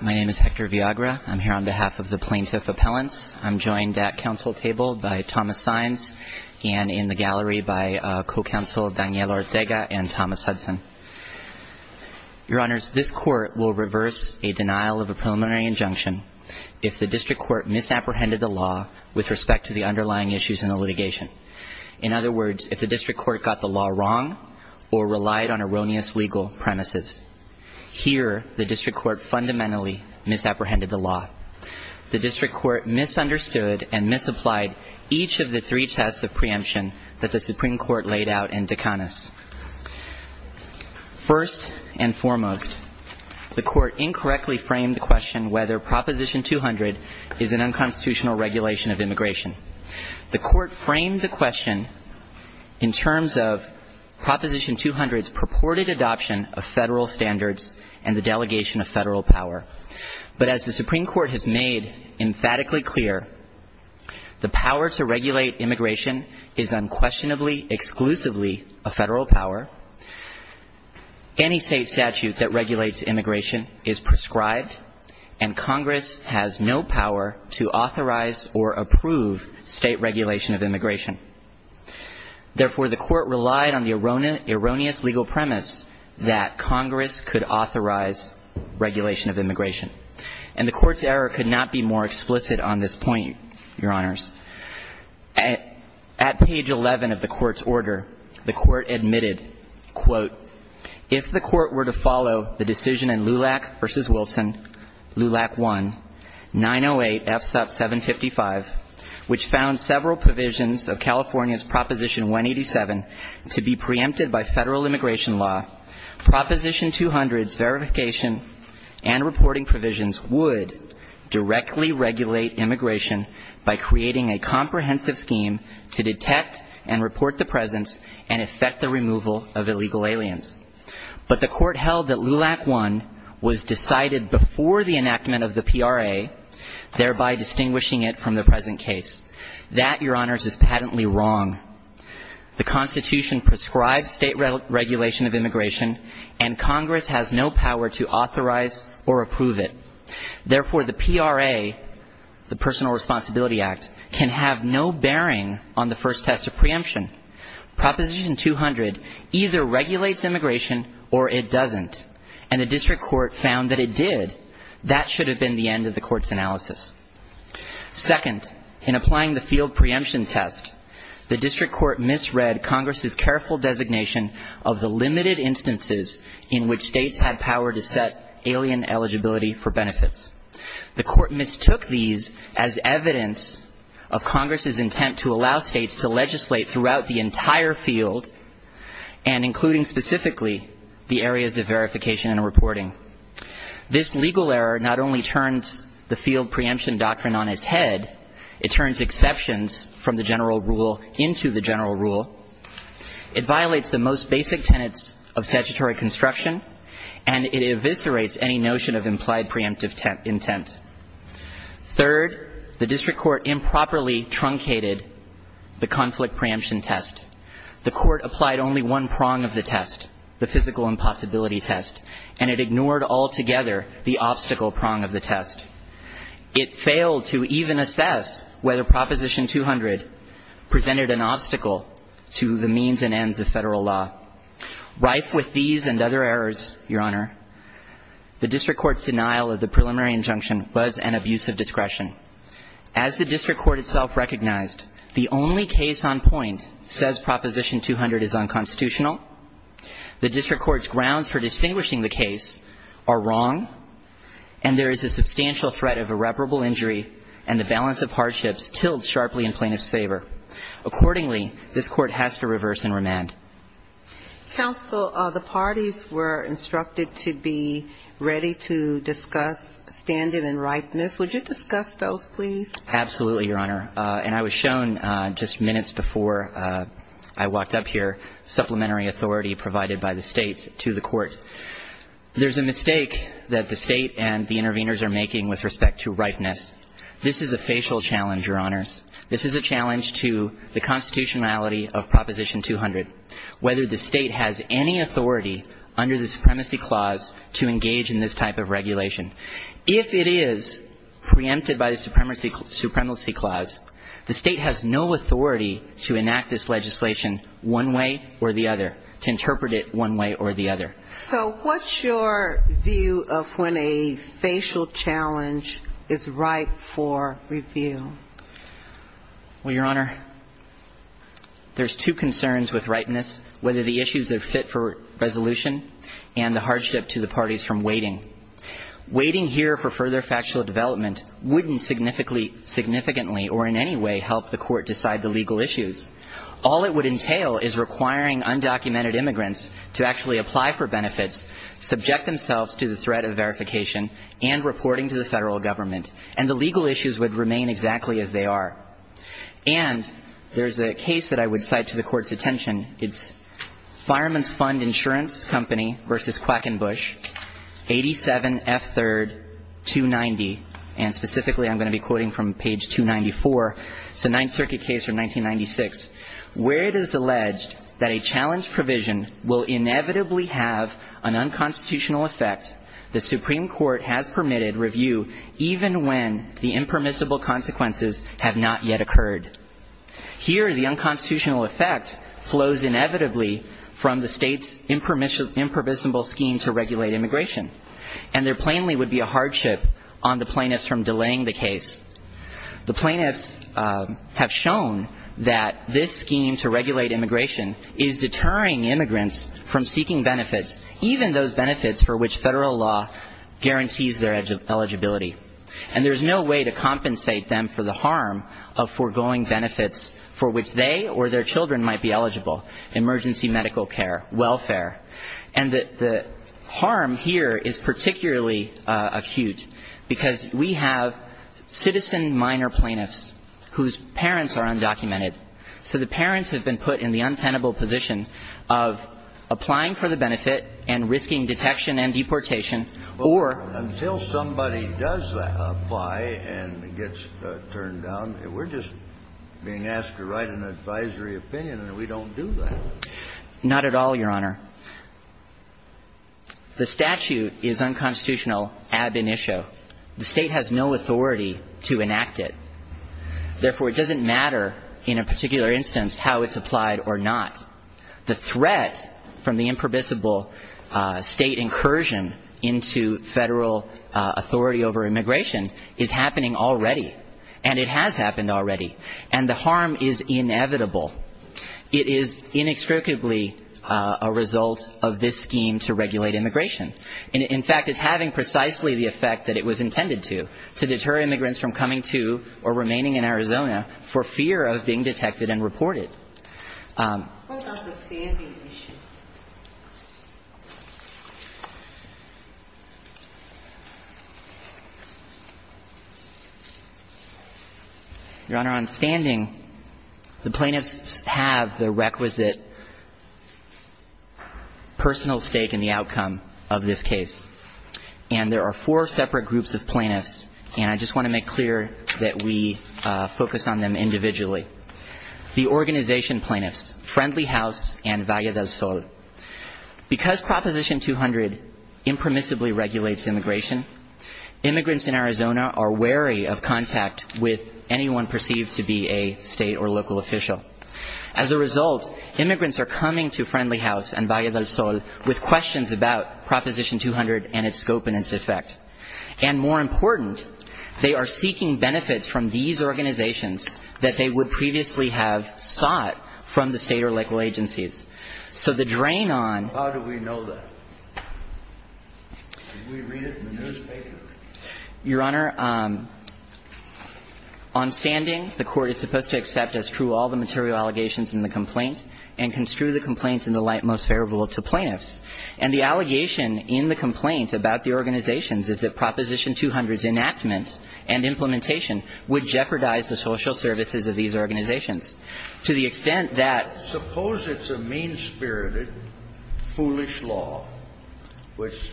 My name is Hector Viagra. I'm here on behalf of the Plaintiff Appellants. I'm joined at council table by Thomas Saenz and in the gallery by co-counsel Daniel Ortega and Thomas Hudson. Your Honors, this Court will reverse a denial of a preliminary injunction if the district court misapprehended the law with respect to the underlying issues in the litigation. In other words, if the district court got the law wrong or relied on erroneous legal premises. Here, the district court fundamentally misapprehended the law. The district court misunderstood and misapplied each of the three tests of preemption that the Supreme Court laid out in Dekanis. First and foremost, the court incorrectly framed the question whether Proposition 200 is an unconstitutional regulation of immigration. The court framed the question in terms of Proposition 200's purported adoption of federal standards and the delegation of federal power. But as the Supreme Court has made emphatically clear, the power to regulate immigration is unquestionably exclusively a federal power. Any state statute that regulates immigration is prescribed, and Congress has no power to authorize or approve state regulation of immigration. Therefore, the court relied on the erroneous legal premise that Congress could authorize regulation of immigration. And the court's error could not be more explicit on this point, Your Honors. At page 11 of the court's order, the court admitted, quote, if the court were to follow the decision in LULAC v. Wilson, LULAC 1, 908 FSUP 755, which found several provisions of California's Proposition 187 to be preempted by federal immigration law, Proposition 200's verification and reporting provisions would directly regulate immigration by creating a comprehensive scheme to detect and report the presence and effect the immigration law was decided before the enactment of the PRA, thereby distinguishing it from the present case. That, Your Honors, is patently wrong. The Constitution prescribes state regulation of immigration, and Congress has no power to authorize or approve it. Therefore, the PRA, the Personal Responsibility Act, can have no bearing on the first test of preemption. Proposition 200 either regulates immigration or it doesn't. And the district court found that it did. That should have been the end of the court's analysis. Second, in applying the field preemption test, the district court misread Congress's careful designation of the limited instances in which states had power to set alien eligibility for benefits. The court mistook these as evidence of Congress's intent to allow states to legislate throughout the entire field, and including specifically the areas of verification and reporting. This legal error not only turns the field preemption doctrine on its head, it turns exceptions from the general rule into the general rule. It violates the most basic tenets of statutory construction, and it eviscerates any notion of implied preemptive intent. Third, the district court improperly violated the conflict preemption test. The court applied only one prong of the test, the physical impossibility test, and it ignored altogether the obstacle prong of the test. It failed to even assess whether Proposition 200 presented an obstacle to the means and ends of Federal law. Rife with these and other errors, Your Honor, the district court's denial of the preliminary injunction was an abuse of discretion. As the district court itself recognized, the only case on point says Proposition 200 is unconstitutional, the district court's grounds for distinguishing the case are wrong, and there is a substantial threat of irreparable injury and the balance of hardships tilled sharply in plaintiff's favor. Accordingly, this court has to reverse and remand. Ginsburg. Counsel, the parties were instructed to be ready to discuss standing and ripeness. Would you discuss those, please? Absolutely, Your Honor. And I was shown just minutes before I walked up here supplementary authority provided by the State to the court. There's a mistake that the State and the interveners are making with respect to ripeness. This is a facial challenge, Your Honors. This is a challenge to the constitutionality of Proposition 200, whether the State has any authority under the Supremacy Clause to engage in this type of regulation. If it is preempted by the Supremacy Clause, the State has no authority to enact this legislation one way or the other, to interpret it one way or the other. So what's your view of when a facial challenge is ripe for review? Well, Your Honor, there's two concerns with ripeness, whether the issues are fit for further factual development wouldn't significantly or in any way help the court decide the legal issues. All it would entail is requiring undocumented immigrants to actually apply for benefits, subject themselves to the threat of verification, and reporting to the Federal Government, and the legal issues would remain exactly as they are. And there's a case that I would cite to the Court's attention. It's Fireman's Fund Insurance Company v. Quackenbush, 87 F. 3rd, 290, and specifically I'm going to be quoting from page 294. It's a Ninth Circuit case from 1996, where it is alleged that a challenge provision will inevitably have an unconstitutional effect the Supreme Court has permitted review even when the impermissible consequences have not yet occurred. Here, the unconstitutional effect flows inevitably from the state's impermissible scheme to regulate immigration. And there plainly would be a hardship on the plaintiffs from delaying the case. The plaintiffs have shown that this scheme to regulate immigration is deterring immigrants from seeking benefits, even those benefits for which Federal law guarantees their eligibility. And there's no way to compensate them for the harm of emergency medical care, welfare. And the harm here is particularly acute, because we have citizen minor plaintiffs whose parents are undocumented. So the parents have been put in the untenable position of applying for the benefit and risking detection and deportation, or until somebody does apply and gets turned down, we're just being asked to write an advisory opinion, and we don't do that. Not at all, Your Honor. The statute is unconstitutional ab initio. The State has no authority to enact it. Therefore, it doesn't matter in a particular instance how it's applied or not. The threat from the impermissible State incursion into Federal authority over immigration is happening already, and it has happened already. And the harm is inevitable. It is inextricably a result of this scheme to regulate immigration. In fact, it's having precisely the effect that it was intended to, to deter immigrants from coming to or remaining in Arizona for fear of being detected and reported. What about the standing issue? Your Honor, on standing, the plaintiffs have the requisite personal stake in the outcome of this case. And there are four separate groups of plaintiffs, and I just want to point out the organization plaintiffs, Friendly House and Valle del Sol. Because Proposition 200 impermissibly regulates immigration, immigrants in Arizona are wary of contact with anyone perceived to be a State or local official. As a result, immigrants are coming to Friendly House and Valle del Sol with questions about Proposition 200 and its scope and its effect. And more important, they are seeking benefits from these organizations that they would previously have sought from the State or local agencies. So the drain on ---- How do we know that? Did we read it in the newspaper? Your Honor, on standing, the Court is supposed to accept as true all the material allegations in the complaint and construe the complaint in the light most favorable to plaintiffs. And the allegation in the complaint about the organizations is that Proposition 200's enactment and implementation would jeopardize the social services of these organizations, to the extent that ---- Suppose it's a mean-spirited, foolish law which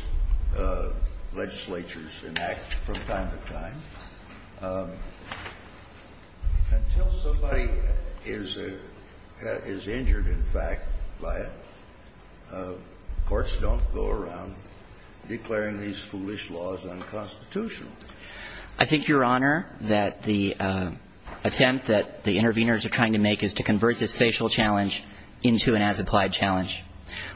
legislatures enact from time to time. Until somebody is injured, in fact, by it, courts don't go around declaring these foolish laws unconstitutional. I think, Your Honor, that the attempt that the interveners are trying to make is to convert this facial challenge into an as-applied challenge.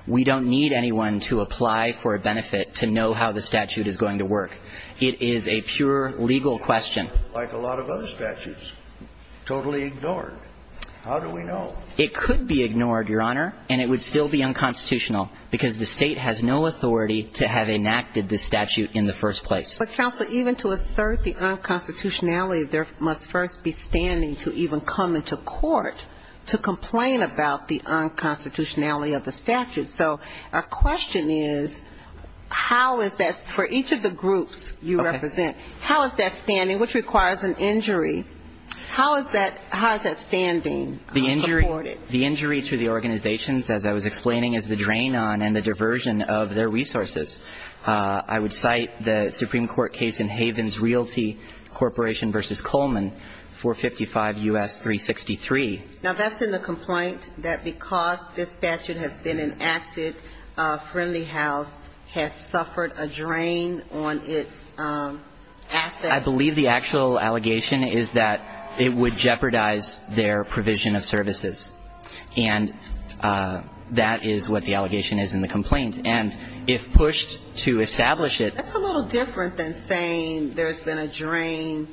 We don't need anyone to apply for a benefit to know how the statute is going to work. It is a pure legal question. Like a lot of other statutes, totally ignored. How do we know? It could be ignored, Your Honor, and it would still be unconstitutional, because the state has no authority to have enacted this statute in the first place. But, counsel, even to assert the unconstitutionality, there must first be standing to even come into court to complain about the unconstitutionality of the statute. So our question is, how is that for each of the groups you represent, how is that standing, which requires an injury, how is that standing supported? The injury to the organizations, as I was explaining, is the drain on and the diversion of their resources. I would cite the Supreme Court case in Havens Realty Corporation v. Coleman, 455 U.S. 363. Now, that's in the complaint that because this statute has been enacted, Friendly House has suffered a drain on its assets. I believe the actual allegation is that it would jeopardize their provision of services, and that is what the allegation is in the complaint. And if pushed to establish it ---- That's a little different than saying there's been a drain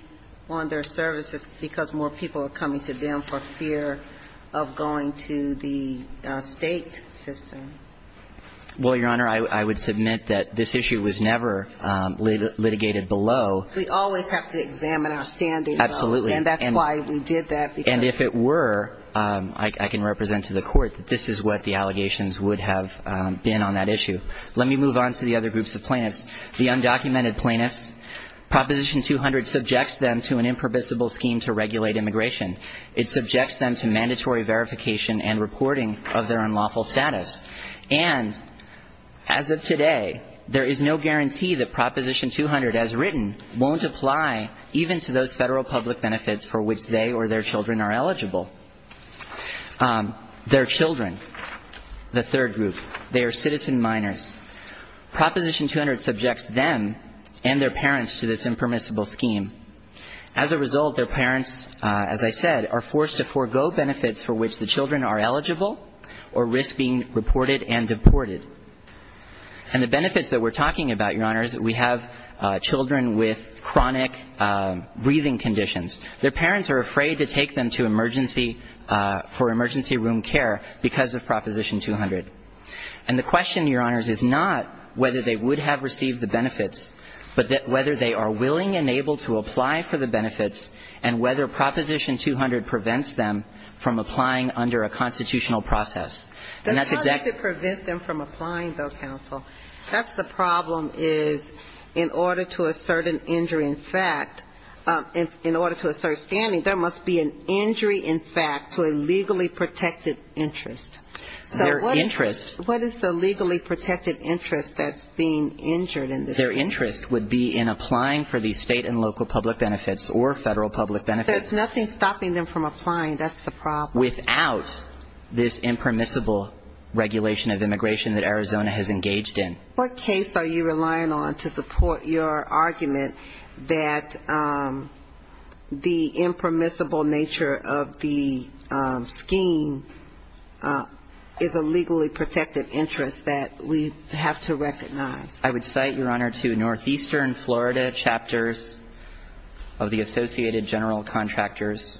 on their services because more people are coming to them for fear of going to the state system. Well, Your Honor, I would submit that this issue was never litigated below. We always have to examine our standing. Absolutely. And that's why we did that. And if it were, I can represent to the Court that this is what the allegations would have been on that issue. Let me move on to the other groups of plaintiffs. The undocumented plaintiffs, Proposition 200 subjects them to an impermissible scheme to regulate immigration. It subjects them to mandatory verification and reporting of their unlawful status. And as of today, there is no guarantee that Proposition 200, as written, won't apply even to those Federal public benefits for which they or their children are eligible. Their children, the third group, they are citizen minors. Proposition 200 subjects them and their parents to this impermissible scheme. As a result, their parents, as I said, are forced to forego benefits for which the children are eligible or risk being reported and deported. And the benefits that we're talking about, Your Honors, we have children with chronic breathing conditions. Their parents are afraid to take them to emergency, for emergency room care because of Proposition 200. And the question, Your Honors, is not whether they would have received the benefits, but whether they are willing and able to apply for the benefits, and whether Proposition 200 prevents them from applying under a constitutional process. And that's exactly the case. But how does it prevent them from applying, though, counsel? That's the problem, is in order to assert an injury in fact, in order to assert standing, there must be an injury in fact to a legally protected interest. So what is the legally protected interest that's being injured in this case? Their interest would be in applying for the state and local public benefits or Federal public benefits. There's nothing stopping them from applying. That's the problem. Without this impermissible regulation of immigration that Arizona has engaged in. What case are you relying on to support your argument that the impermissible nature of the scheme is a legally protected interest that we have to recognize? I would cite, Your Honor, to northeastern Florida chapters of the Associated General Contractors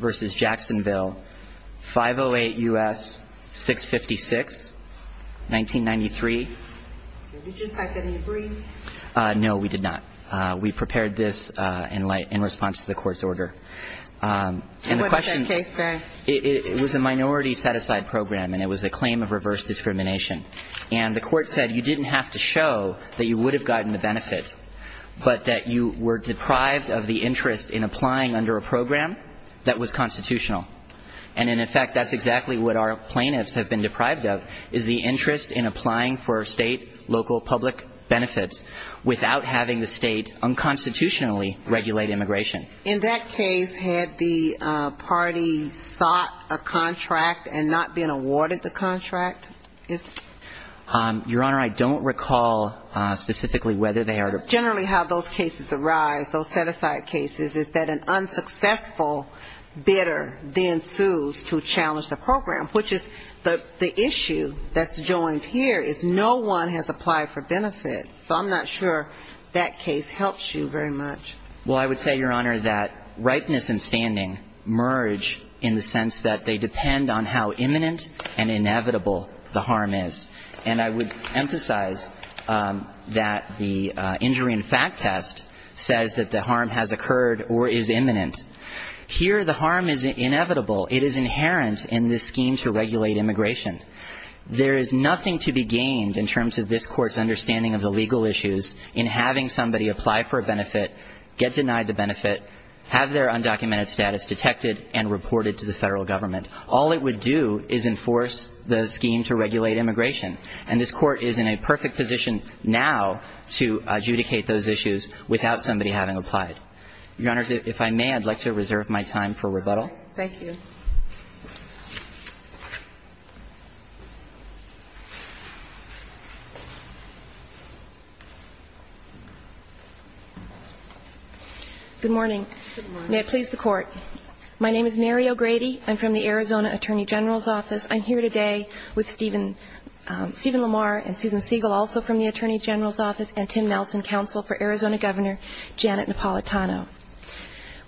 v. Jacksonville, 508 U.S. 656, 1993. Did you cite any brief? No, we did not. We prepared this in response to the Court's order. And the question. What did that case say? It was a minority set-aside program, and it was a claim of reverse discrimination. And the Court said you didn't have to show that you would have gotten the benefit, but that you were deprived of the interest in applying under a program that was constitutional. And, in effect, that's exactly what our plaintiffs have been deprived of, is the interest in applying for state, local, public benefits without having the state unconstitutionally regulate immigration. In that case, had the party sought a contract and not been awarded the contract? Your Honor, I don't recall specifically whether they are. That's generally how those cases arise, those set-aside cases, is that an unsuccessful bidder then sues to challenge the program, which is the issue that's joined here is no one has applied for benefits. So I'm not sure that case helps you very much. Well, I would say, Your Honor, that ripeness and standing merge in the sense that they depend on how imminent and inevitable the harm is. And I would emphasize that the injury and fact test says that the harm has occurred or is imminent. Here, the harm is inevitable. It is inherent in this scheme to regulate immigration. There is nothing to be gained in terms of this Court's understanding of the legal issues in having somebody apply for a benefit, get denied the benefit, have their rights violated. All it would do is enforce the scheme to regulate immigration. And this Court is in a perfect position now to adjudicate those issues without somebody having applied. Your Honors, if I may, I'd like to reserve my time for rebuttal. Thank you. Good morning. May it please the Court. My name is Mary O'Grady. I'm from the Arizona Attorney General's Office. I'm here today with Stephen Lamar and Susan Siegel, also from the Attorney General's Office, and Tim Nelson, counsel for Arizona Governor Janet Napolitano.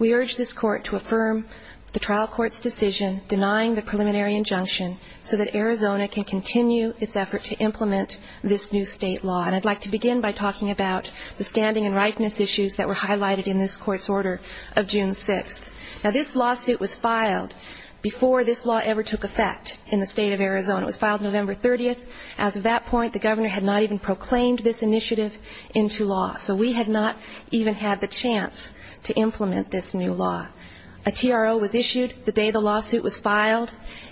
We urge this Court to affirm the trial court's decision denying the preliminary injunction so that Arizona can continue its effort to implement this new state law. And I'd like to begin by talking about the standing and ripeness issues that were highlighted in this Court's order of June 6th. Now, this lawsuit was filed before this law ever took effect in the State of Arizona. It was filed November 30th. As of that point, the Governor had not even proclaimed this initiative into law. So we had not even had the chance to implement this new law. A TRO was issued the day the lawsuit was filed,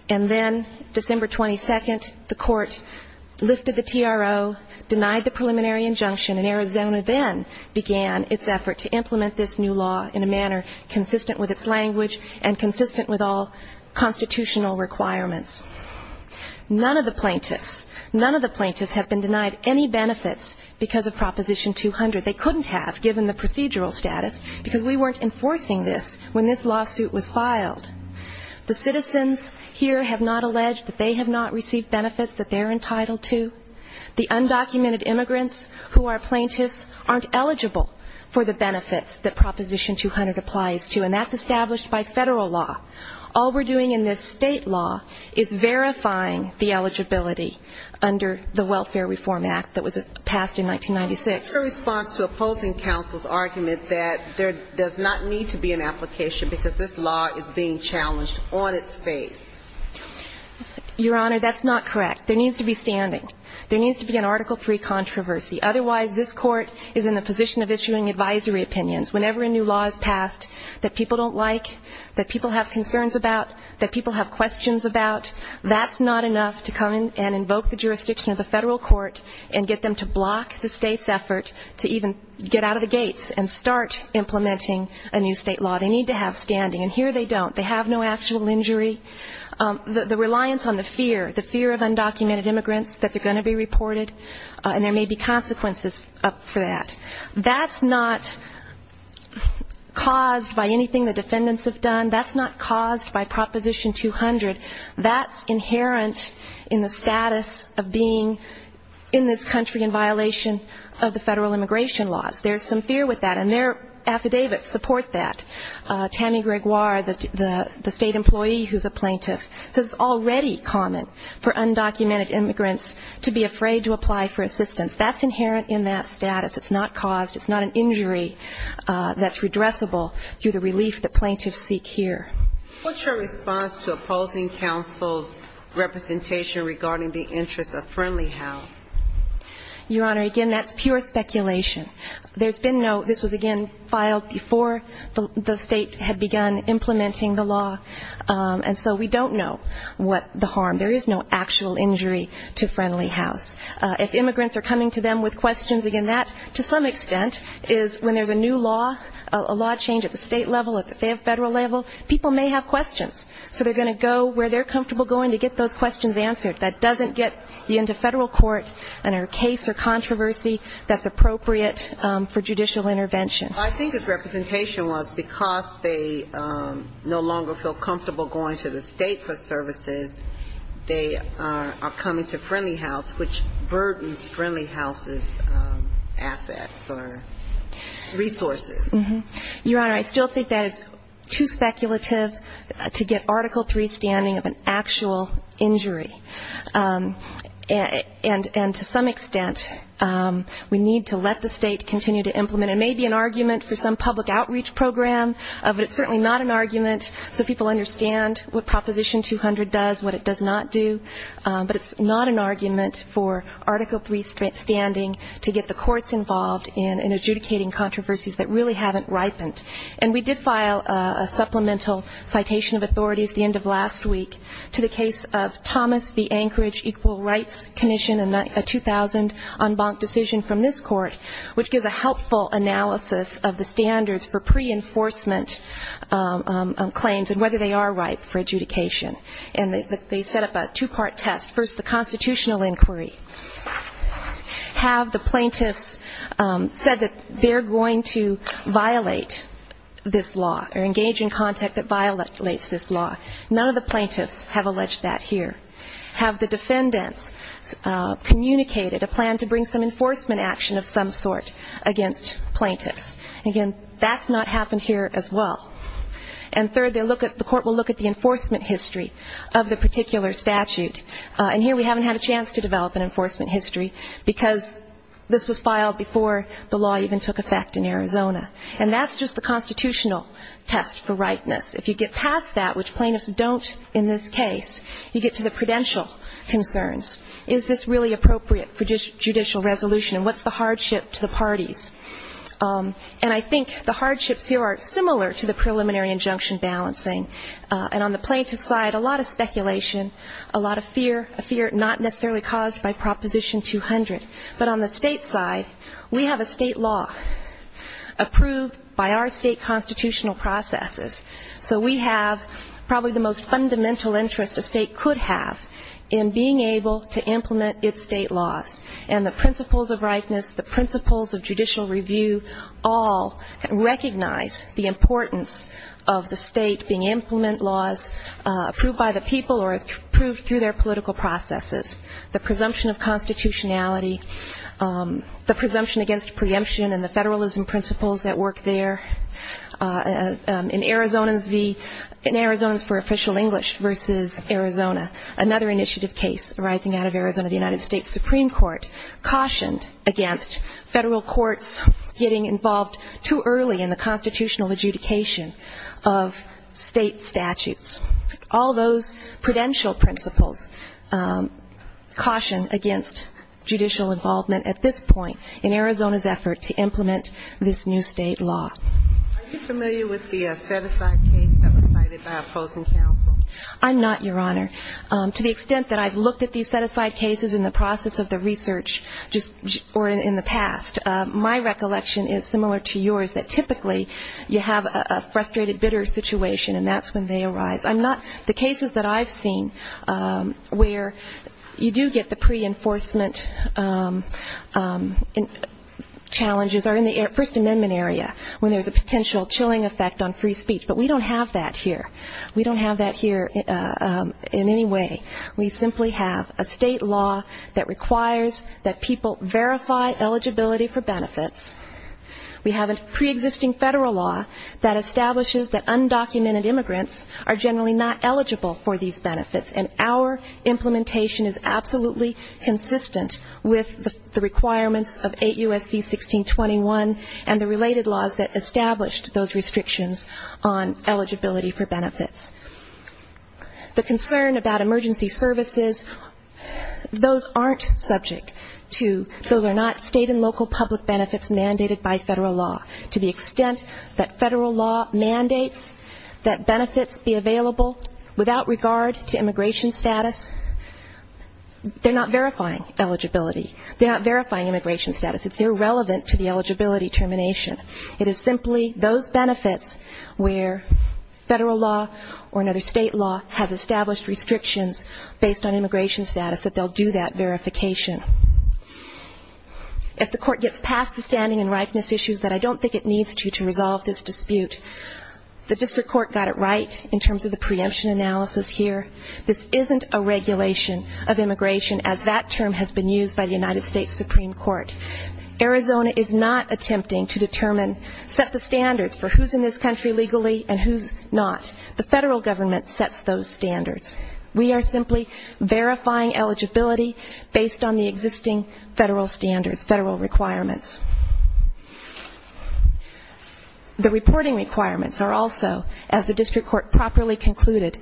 and then December 22nd, the Court lifted the TRO, denied the preliminary injunction, and Arizona then began its effort to implement this new law in a manner consistent with its language and consistent with all constitutional requirements. None of the plaintiffs, none of the plaintiffs have been denied any benefits because of Proposition 200. They couldn't have, given the procedural status, because we weren't enforcing this when this lawsuit was filed. The citizens here have not alleged that they have not received benefits that they're entitled to. The undocumented immigrants who are plaintiffs aren't eligible for the benefits that Proposition 200 applies to, and that's established by Federal law. All we're doing in this State law is verifying the eligibility under the Welfare Reform Act that was passed in 1996. What's your response to opposing counsel's argument that there does not need to be an application because this law is being challenged on its face? Your Honor, that's not correct. There needs to be standing. There needs to be an Article III controversy. Otherwise, this Court is in the position of issuing advisory opinions. Whenever a new law is passed that people don't like, that people have concerns about, that people have questions about, that's not enough to come and invoke the jurisdiction of the Federal court and get them to block the State's effort to even get out of the gates and start implementing a new State law. They need to have standing, and here they don't. They have no actual injury. The reliance on the fear, the fear of undocumented immigrants, that they're going to be reported, and there may be consequences for that. That's not caused by anything the defendants have done. That's not caused by Proposition 200. That's inherent in the status of being in this country in violation of the Federal immigration laws. There's some fear with that, and their affidavits support that. Tammy Gregoire, the State employee who's a plaintiff, says it's already common for undocumented immigrants to be afraid to apply for assistance. That's inherent in that status. It's not caused, it's not an injury that's redressable through the relief that plaintiffs seek here. What's your response to opposing counsel's representation regarding the interests of Friendly House? Your Honor, again, that's pure speculation. There's been no, this was again filed before the State had begun implementing the law, and so we don't know what the harm. There is no actual injury to Friendly House. If immigrants are coming to them with questions, again, that to some extent is when there's a new law, a law change at the State level, at the Federal level, people may have questions. So they're going to go where they're comfortable going to get those questions answered. That doesn't get you into Federal court in a case or controversy that's appropriate for judicial intervention. I think his representation was because they no longer feel comfortable going to the State for services, they are coming to Friendly House, which burdens Friendly House's assets or resources. Your Honor, I still think that is too speculative to get Article III standing of an actual injury. And to some extent, we need to let the State continue to implement it. It may be an argument for some public outreach program, but it's certainly not an argument so people understand what Proposition 200 does, what it does not do. But it's not an argument for Article III standing to get the courts involved in adjudicating controversies that really haven't ripened. And we did file a supplemental citation of authorities the end of last week to the case of Thomas v. Anchorage Equal Rights Commission, a 2000 en banc decision from this court, which gives a helpful analysis of the standards for pre-enforcement claims and whether they are ripe for adjudication. And they set up a two-part test. First, the constitutional inquiry. Have the plaintiffs said that they're going to violate this law or engage in contact that violates this law. None of the plaintiffs have alleged that here. Have the defendants communicated a plan to bring some enforcement action of some sort against plaintiffs. Again, that's not happened here as well. And third, the court will look at the enforcement history of the particular statute. And here we haven't had a chance to develop an enforcement history because this was filed before the law even took effect in Arizona. And that's just the constitutional test for rightness. If you get past that, which plaintiffs don't in this case, you get to the prudential concerns. Is this really appropriate for judicial resolution? And what's the hardship to the parties? And I think the hardships here are similar to the preliminary injunction balancing. And on the plaintiff side, a lot of speculation, a lot of fear, a fear not necessarily caused by Proposition 200. But on the state side, we have a state law approved by our state constitutional processes. So we have probably the most fundamental interest a state could have in being able to implement its state laws. And the principles of rightness, the principles of judicial review all recognize the importance of the state being implement laws approved by the people or approved through their political processes. The presumption of constitutionality, the presumption against preemption and the federalism principles that work there. In Arizona's for official English versus Arizona, another initiative case arising out of Arizona, the United States Supreme Court, cautioned against federal courts getting involved too early in the constitutional adjudication of state statutes. All those prudential principles caution against judicial involvement at this point in Arizona's effort to implement this new state law. Are you familiar with the set-aside case that was cited by opposing counsel? I'm not, Your Honor. To the extent that I've looked at these set-aside cases in the process of the research or in the past, my recollection is similar to yours, that typically you have a frustrated bidder situation, and that's when they arise. I'm not, the cases that I've seen where you do get the pre-enforcement challenges are in the First Amendment area, when there's a potential chilling effect on free speech. But we don't have that here. We don't have that here in any way. We simply have a state law that requires that people verify eligibility for benefits. We have a pre-existing federal law that establishes that undocumented immigrants are generally not eligible for these benefits, and our implementation is absolutely consistent with the requirements of 8 U.S.C. 1621 and the related laws that established those restrictions on eligibility for benefits. The concern about emergency services, those aren't subject to, those are not state and local public benefits mandated by federal law. To the extent that federal law mandates that benefits be available without regard to immigration status, they're not verifying eligibility. They're not verifying immigration status. It's irrelevant to the eligibility termination. It is simply those benefits where federal law or another state law has established restrictions based on immigration status that they'll do that verification. If the court gets past the standing and ripeness issues that I don't think it needs to to resolve this dispute, the district court got it right in terms of the preemption analysis here. This isn't a regulation of immigration as that term has been used by the United States Supreme Court. Arizona is not attempting to determine, set the standards for who's in this country legally and who's not. The federal government sets those standards. We are simply verifying eligibility based on the existing federal standards, federal requirements. The reporting requirements are also, as the district court properly concluded,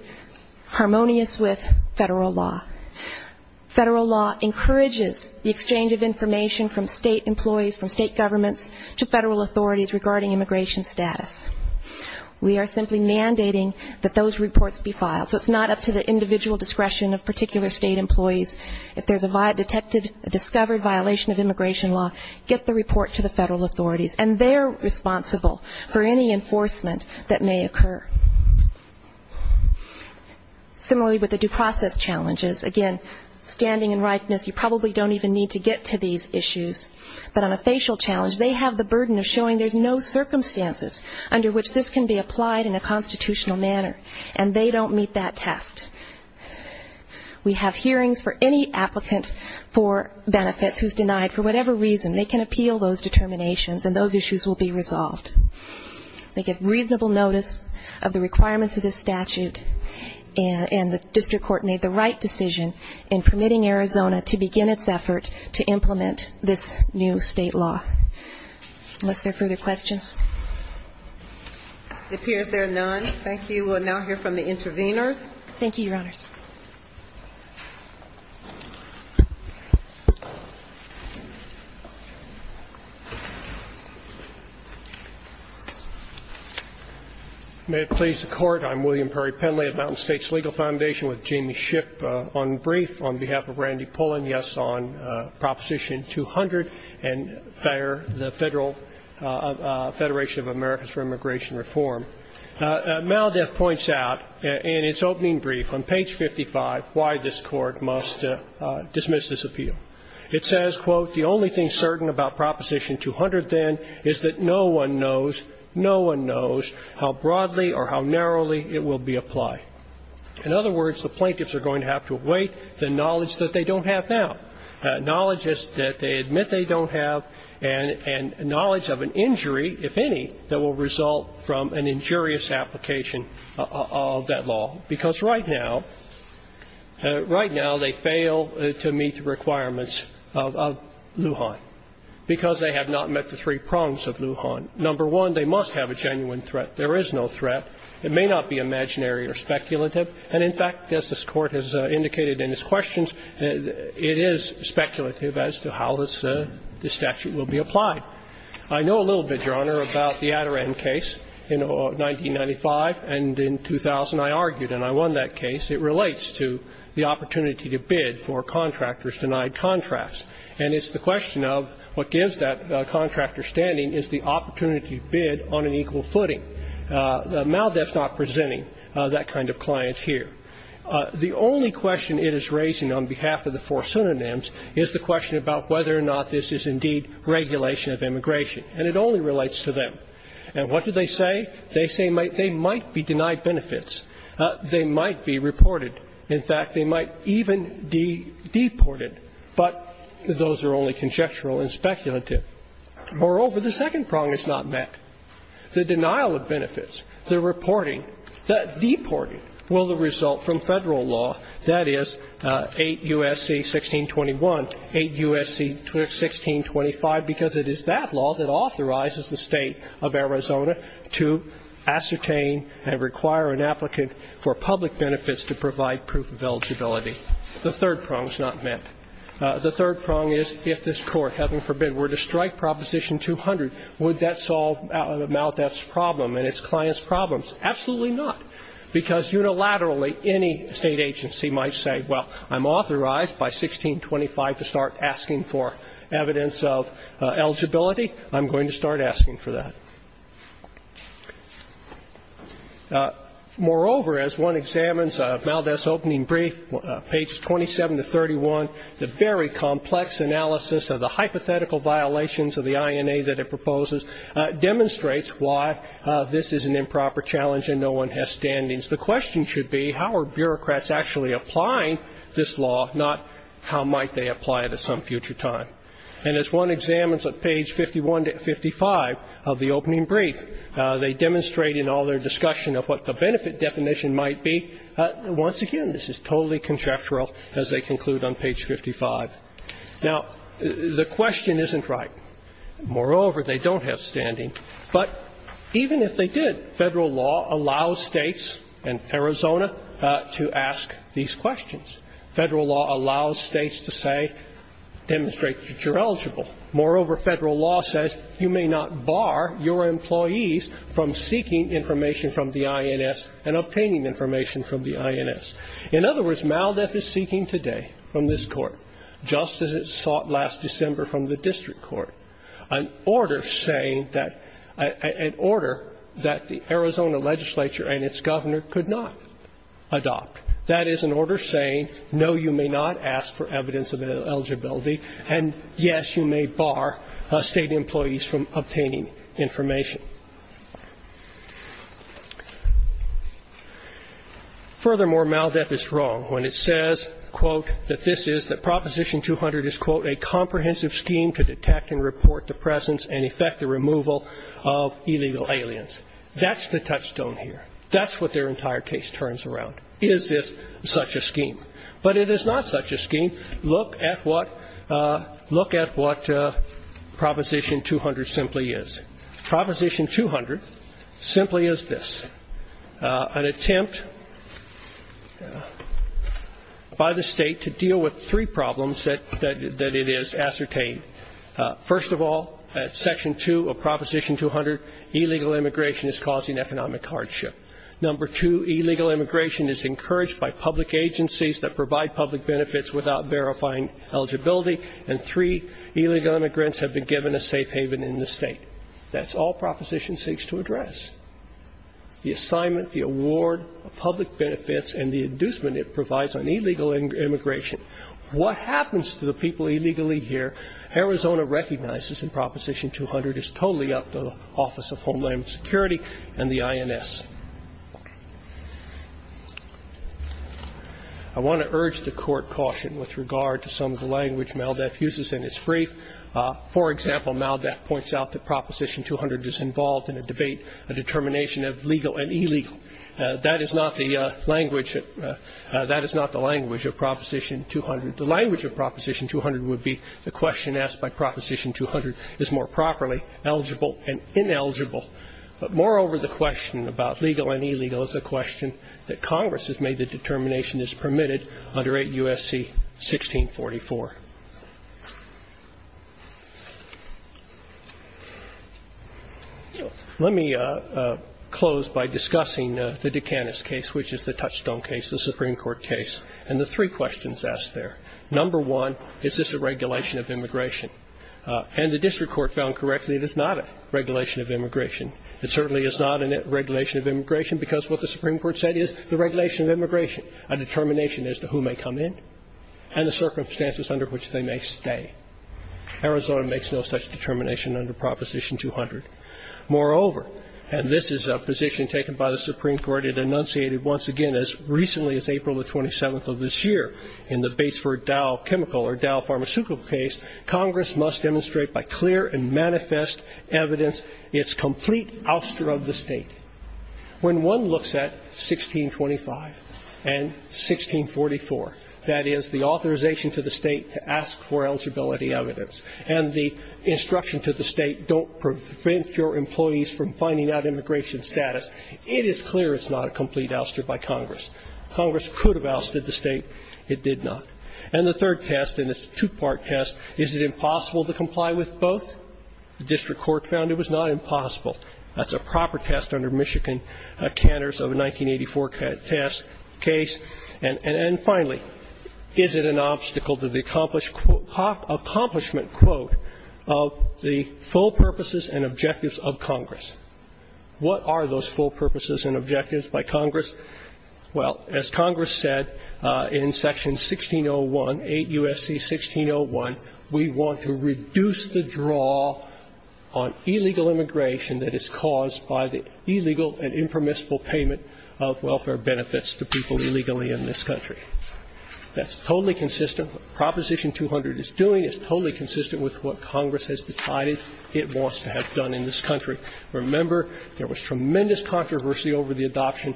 harmonious with federal law. Federal law encourages the exchange of information from state employees, from state governments to federal authorities regarding immigration status. We are simply mandating that those reports be filed. So it's not up to the individual discretion of particular state employees. If there's a discovered violation of immigration law, get the report to the federal authorities. And they're responsible for any enforcement that may occur. Similarly, with the due process challenges, again, standing and ripeness, you probably don't even need to get to these issues. But on a facial challenge, they have the burden of showing there's no circumstances under which this can be applied in a constitutional manner, and they don't meet that test. We have hearings for any applicant for benefits who's denied for whatever reason. They can appeal those determinations, and those issues will be resolved. They give reasonable notice of the requirements of this statute, and the district court made the right decision in permitting Arizona to begin its effort to implement this new state law. Unless there are further questions. It appears there are none. Thank you. We will now hear from the intervenors. Thank you, Your Honors. May it please the Court. I'm William Perry Pendley of Mountain States Legal Foundation with Jamie Shipp on brief on behalf of Randy Pullen. I want to begin, yes, on Proposition 200 and the Federal Federation of Americas for Immigration Reform. MALDEF points out in its opening brief on page 55 why this Court must dismiss this appeal. It says, quote, The only thing certain about Proposition 200, then, is that no one knows, no one knows how broadly or how narrowly it will be applied. In other words, the plaintiffs are going to have to await the knowledge that they don't have now, knowledge that they admit they don't have, and knowledge of an injury, if any, that will result from an injurious application of that law. Because right now, right now they fail to meet the requirements of Lujan, because they have not met the three prongs of Lujan. Number one, they must have a genuine threat. There is no threat. It may not be imaginary or speculative. And, in fact, as this Court has indicated in its questions, it is speculative as to how this statute will be applied. I know a little bit, Your Honor, about the Adaran case in 1995 and in 2000. I argued, and I won that case. It relates to the opportunity to bid for contractors denied contracts. And it's the question of what gives that contractor standing is the opportunity to bid on an equal footing. MALDEF is not presenting that kind of client here. The only question it is raising on behalf of the four synonyms is the question about whether or not this is indeed regulation of immigration. And it only relates to them. And what do they say? They say they might be denied benefits. They might be reported. In fact, they might even be deported. But those are only conjectural and speculative. Moreover, the second prong is not met. The denial of benefits, the reporting, the deporting, will result from Federal law, that is, 8 U.S.C. 1621, 8 U.S.C. 1625, because it is that law that authorizes the State of Arizona to ascertain and require an applicant for public benefits to provide proof of eligibility. The third prong is not met. The third prong is if this Court, heaven forbid, were to strike Proposition 200, would that solve MALDEF's problem and its clients' problems? Absolutely not, because unilaterally any State agency might say, well, I'm authorized by 1625 to start asking for evidence of eligibility. I'm going to start asking for that. Moreover, as one examines MALDEF's opening brief, pages 27 to 31, the very complex analysis of the hypothetical violations of the INA that it proposes demonstrates why this is an improper challenge and no one has standings. The question should be how are bureaucrats actually applying this law, not how might they apply it at some future time. And as one examines at page 51 to 55 of the opening brief, they demonstrate in all their discussion of what the benefit definition might be. Once again, this is totally conjectural, as they conclude on page 55. Now, the question isn't right. Moreover, they don't have standing. But even if they did, Federal law allows States and Arizona to ask these questions. Federal law allows States to say, demonstrate that you're eligible. Moreover, Federal law says you may not bar your employees from seeking information from the INS and obtaining information from the INS. In other words, MALDEF is seeking today from this Court, just as it sought last December from the District Court, an order saying that, an order that the Arizona legislature and its governor could not adopt. That is an order saying, no, you may not ask for evidence of eligibility. And, yes, you may bar State employees from obtaining information. Furthermore, MALDEF is wrong when it says, quote, that this is, that Proposition 200 is, quote, a comprehensive scheme to detect and report the presence and effect the removal of illegal aliens. That's the touchstone here. That's what their entire case turns around. Is this such a scheme? But it is not such a scheme. Look at what Proposition 200 simply is. Proposition 200 simply is this, an attempt by the State to deal with three problems that it has ascertained. First of all, at Section 2 of Proposition 200, illegal immigration is causing economic hardship. Number two, illegal immigration is encouraged by public agencies that provide public benefits without verifying eligibility, and three illegal immigrants have been given a safe haven in the State. That's all Proposition seeks to address. The assignment, the award of public benefits, and the inducement it provides on illegal immigration. What happens to the people illegally here, Arizona recognizes in Proposition 200, is totally up to the Office of Homeland Security and the INS. I want to urge the Court caution with regard to some of the language MALDEF uses in its brief. For example, MALDEF points out that Proposition 200 is involved in a debate, a determination of legal and illegal. That is not the language of Proposition 200. The language of Proposition 200 would be the question asked by Proposition 200 is more properly eligible and ineligible. But moreover, the question about legal and illegal is a question that Congress has made the determination is permitted under 8 U.S.C. 1644. Let me close by discussing the Dukakis case, which is the touchstone case, the Supreme Court case, and the three questions asked there. Number one, is this a regulation of immigration? And the district court found correctly it is not a regulation of immigration. It certainly is not a regulation of immigration because what the Supreme Court said is the regulation of immigration, a determination as to who may come in and the circumstances under which they may stay. Arizona makes no such determination under Proposition 200. Moreover, and this is a position taken by the Supreme Court, it enunciated once again as recently as April the 27th of this year in the Batesford Dow Chemical or Dow Pharmaceutical case, Congress must demonstrate by clear and manifest evidence its complete ouster of the State. When one looks at 1625 and 1644, that is, the authorization to the State to ask for eligibility evidence and the instruction to the State, don't prevent your employees from finding out immigration status, it is clear it's not a complete ouster by Congress. Congress could have ousted the State. It did not. And the third test, and it's a two-part test, is it impossible to comply with both? The district court found it was not impossible. That's a proper test under Michigan Cantor's 1984 test case. And finally, is it an obstacle to the accomplished quote of the full purposes and objectives of Congress? What are those full purposes and objectives by Congress? Well, as Congress said in Section 1601, 8 U.S.C. 1601, we want to reduce the draw on illegal immigration that is caused by the illegal and impermissible payment of welfare benefits to people illegally in this country. That's totally consistent. What Proposition 200 is doing is totally consistent with what Congress has decided it wants to have done in this country. Remember, there was tremendous controversy over the adoption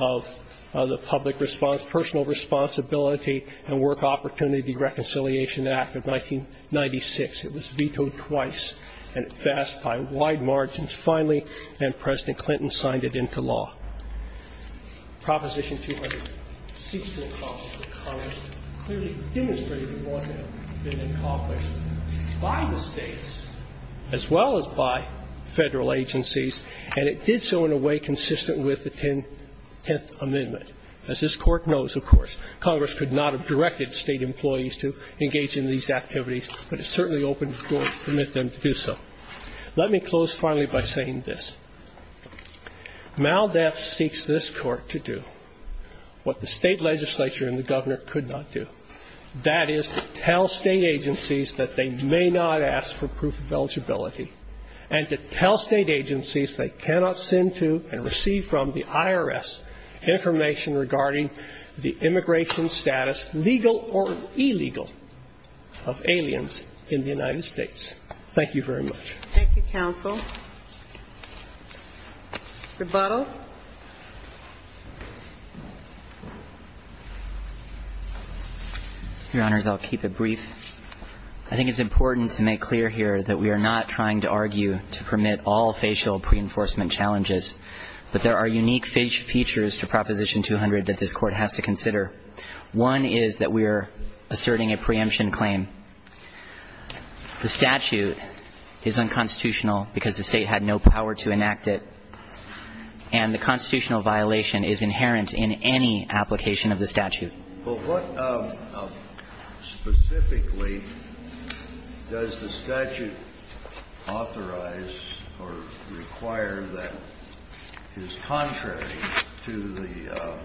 of the public response, Personal Responsibility and Work Opportunity Reconciliation Act of 1996. It was vetoed twice, and it passed by wide margins. Finally, then President Clinton signed it into law. Proposition 200 seeks to accomplish what Congress clearly demonstrated it would have been accomplished by the states as well as by federal agencies, and it did so in a way consistent with the 10th Amendment. As this Court knows, of course, Congress could not have directed state employees to engage in these activities, but it certainly opened the door to permit them to do so. Let me close finally by saying this. MALDEF seeks this Court to do what the state legislature and the governor could not do. That is to tell state agencies that they may not ask for proof of eligibility and to tell state agencies they cannot send to and receive from the IRS information regarding the immigration status, legal or illegal, of aliens in the United States. Thank you very much. Thank you, counsel. Rebuttal. Your Honors, I'll keep it brief. I think it's important to make clear here that we are not trying to argue to permit all facial pre-enforcement challenges, but there are unique features to Proposition 200 that this Court has to consider. One is that we are asserting a preemption claim. The statute is unconstitutional because the State had no power to enact it, and the constitutional violation is inherent in any application of the statute. Well, what specifically does the statute authorize or require that is contrary to the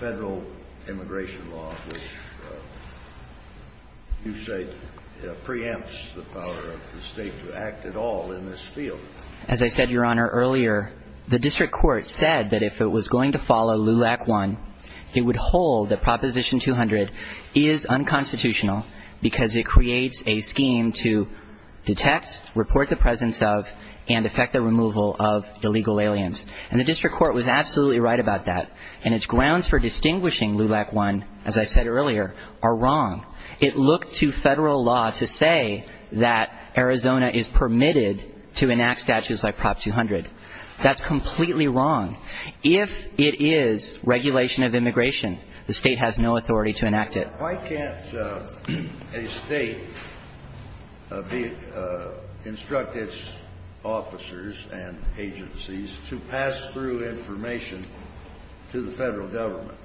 Federal immigration law, which you say preempts the power of the State to act at all in this field? As I said, Your Honor, earlier, the district court said that if it was going to follow LEW Act I, it would hold that Proposition 200 is unconstitutional because it creates a scheme to detect, report the presence of, and effect the removal of illegal aliens. And the district court was absolutely right about that. And its grounds for distinguishing LEW Act I, as I said earlier, are wrong. It looked to Federal law to say that Arizona is permitted to enact statutes like Prop 200. That's completely wrong. If it is regulation of immigration, the State has no authority to enact it. Why can't a State instruct its officers and agencies to pass through information to the Federal government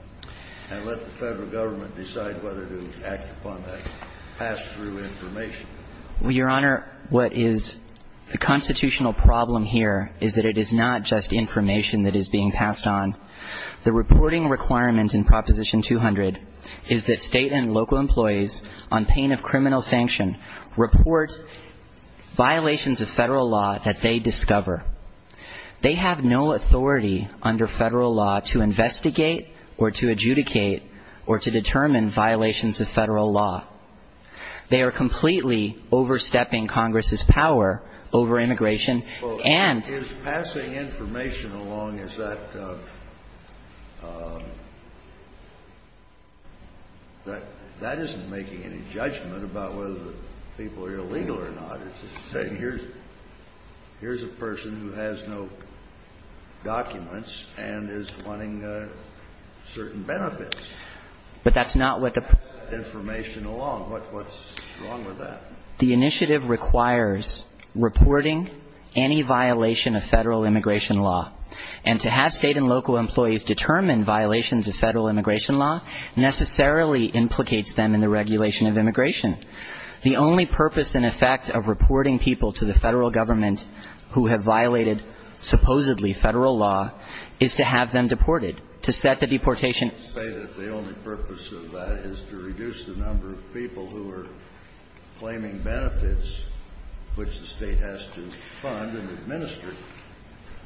and let the Federal government decide whether to act upon that pass-through information? Well, Your Honor, what is the constitutional problem here is that it is not just state and local employees on pain of criminal sanction report violations of Federal law that they discover. They have no authority under Federal law to investigate or to adjudicate or to determine violations of Federal law. They are completely overstepping Congress's power over immigration and And is passing information along, is that, that isn't making any judgment about whether the people are illegal or not. It's just saying here's a person who has no documents and is wanting certain benefits. But that's not what the process is. Pass that information along. What's wrong with that? The initiative requires reporting any violation of Federal immigration law. And to have state and local employees determine violations of Federal immigration law necessarily implicates them in the regulation of immigration. The only purpose and effect of reporting people to the Federal government who have violated supposedly Federal law is to have them deported, to set the deportation purpose of that is to reduce the number of people who are claiming benefits which the State has to fund and administer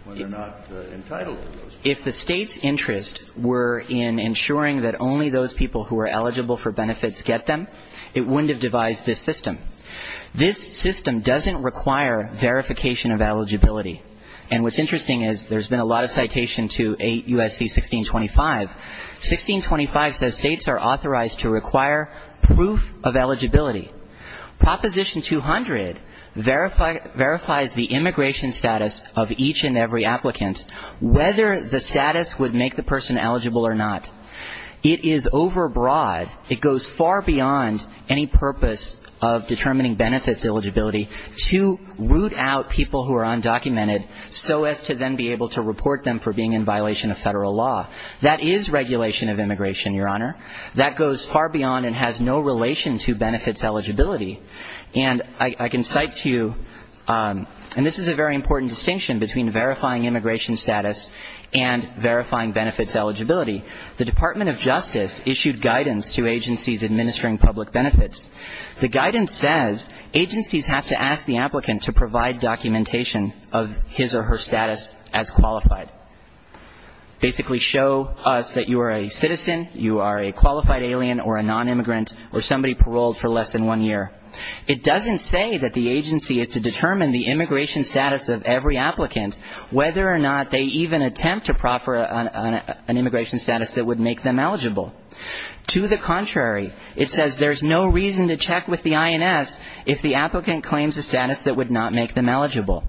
when they're not entitled to those benefits. If the State's interest were in ensuring that only those people who are eligible for benefits get them, it wouldn't have devised this system. This system doesn't require verification of eligibility. And what's interesting is there's been a lot of citation to 8 U.S.C. 1625. 1625 says States are authorized to require proof of eligibility. Proposition 200 verifies the immigration status of each and every applicant, whether the status would make the person eligible or not. It is overbroad. It goes far beyond any purpose of determining benefits eligibility to root out people who are undocumented so as to then be able to report them for being in violation of Federal law. That is regulation of immigration, Your Honor. That goes far beyond and has no relation to benefits eligibility. And I can cite to you, and this is a very important distinction between verifying immigration status and verifying benefits eligibility. The Department of Justice issued guidance to agencies administering public benefits. The guidance says agencies have to ask the applicant to provide documentation of his or her status as qualified. Basically show us that you are a citizen, you are a qualified alien or a nonimmigrant or somebody paroled for less than one year. It doesn't say that the agency is to determine the immigration status of every applicant, whether or not they even attempt to proffer an immigration status that would make them eligible. To the contrary, it says there's no reason to check with the INS if the applicant claims a status that would not make them eligible.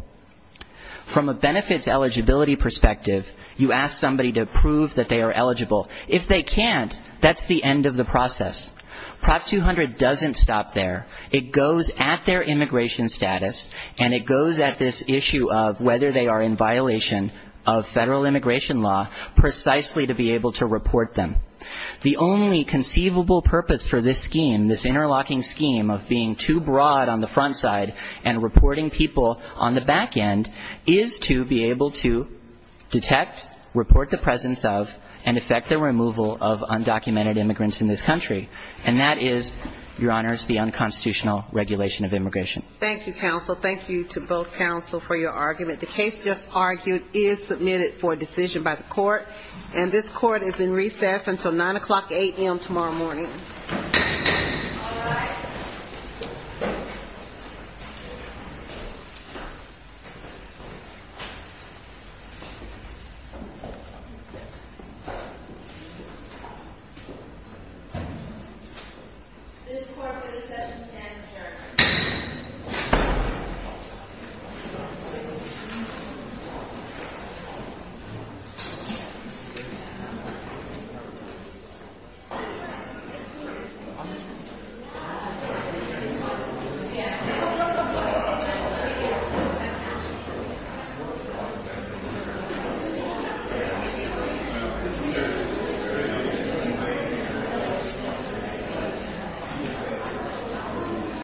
From a benefits eligibility perspective, you ask somebody to prove that they are eligible. If they can't, that's the end of the process. Prop 200 doesn't stop there. It goes at their immigration status and it goes at this issue of whether they are in violation of Federal The only conceivable purpose for this scheme, this interlocking scheme of being too broad on the front side and reporting people on the back end is to be able to detect, report the presence of, and effect the removal of undocumented immigrants in this country. And that is, Your Honors, the unconstitutional regulation of immigration. Thank you, counsel. Thank you to both counsel for your argument. The case just argued is submitted for decision by the court, and this court is in recess until 9 o'clock a.m. tomorrow morning. Thank you.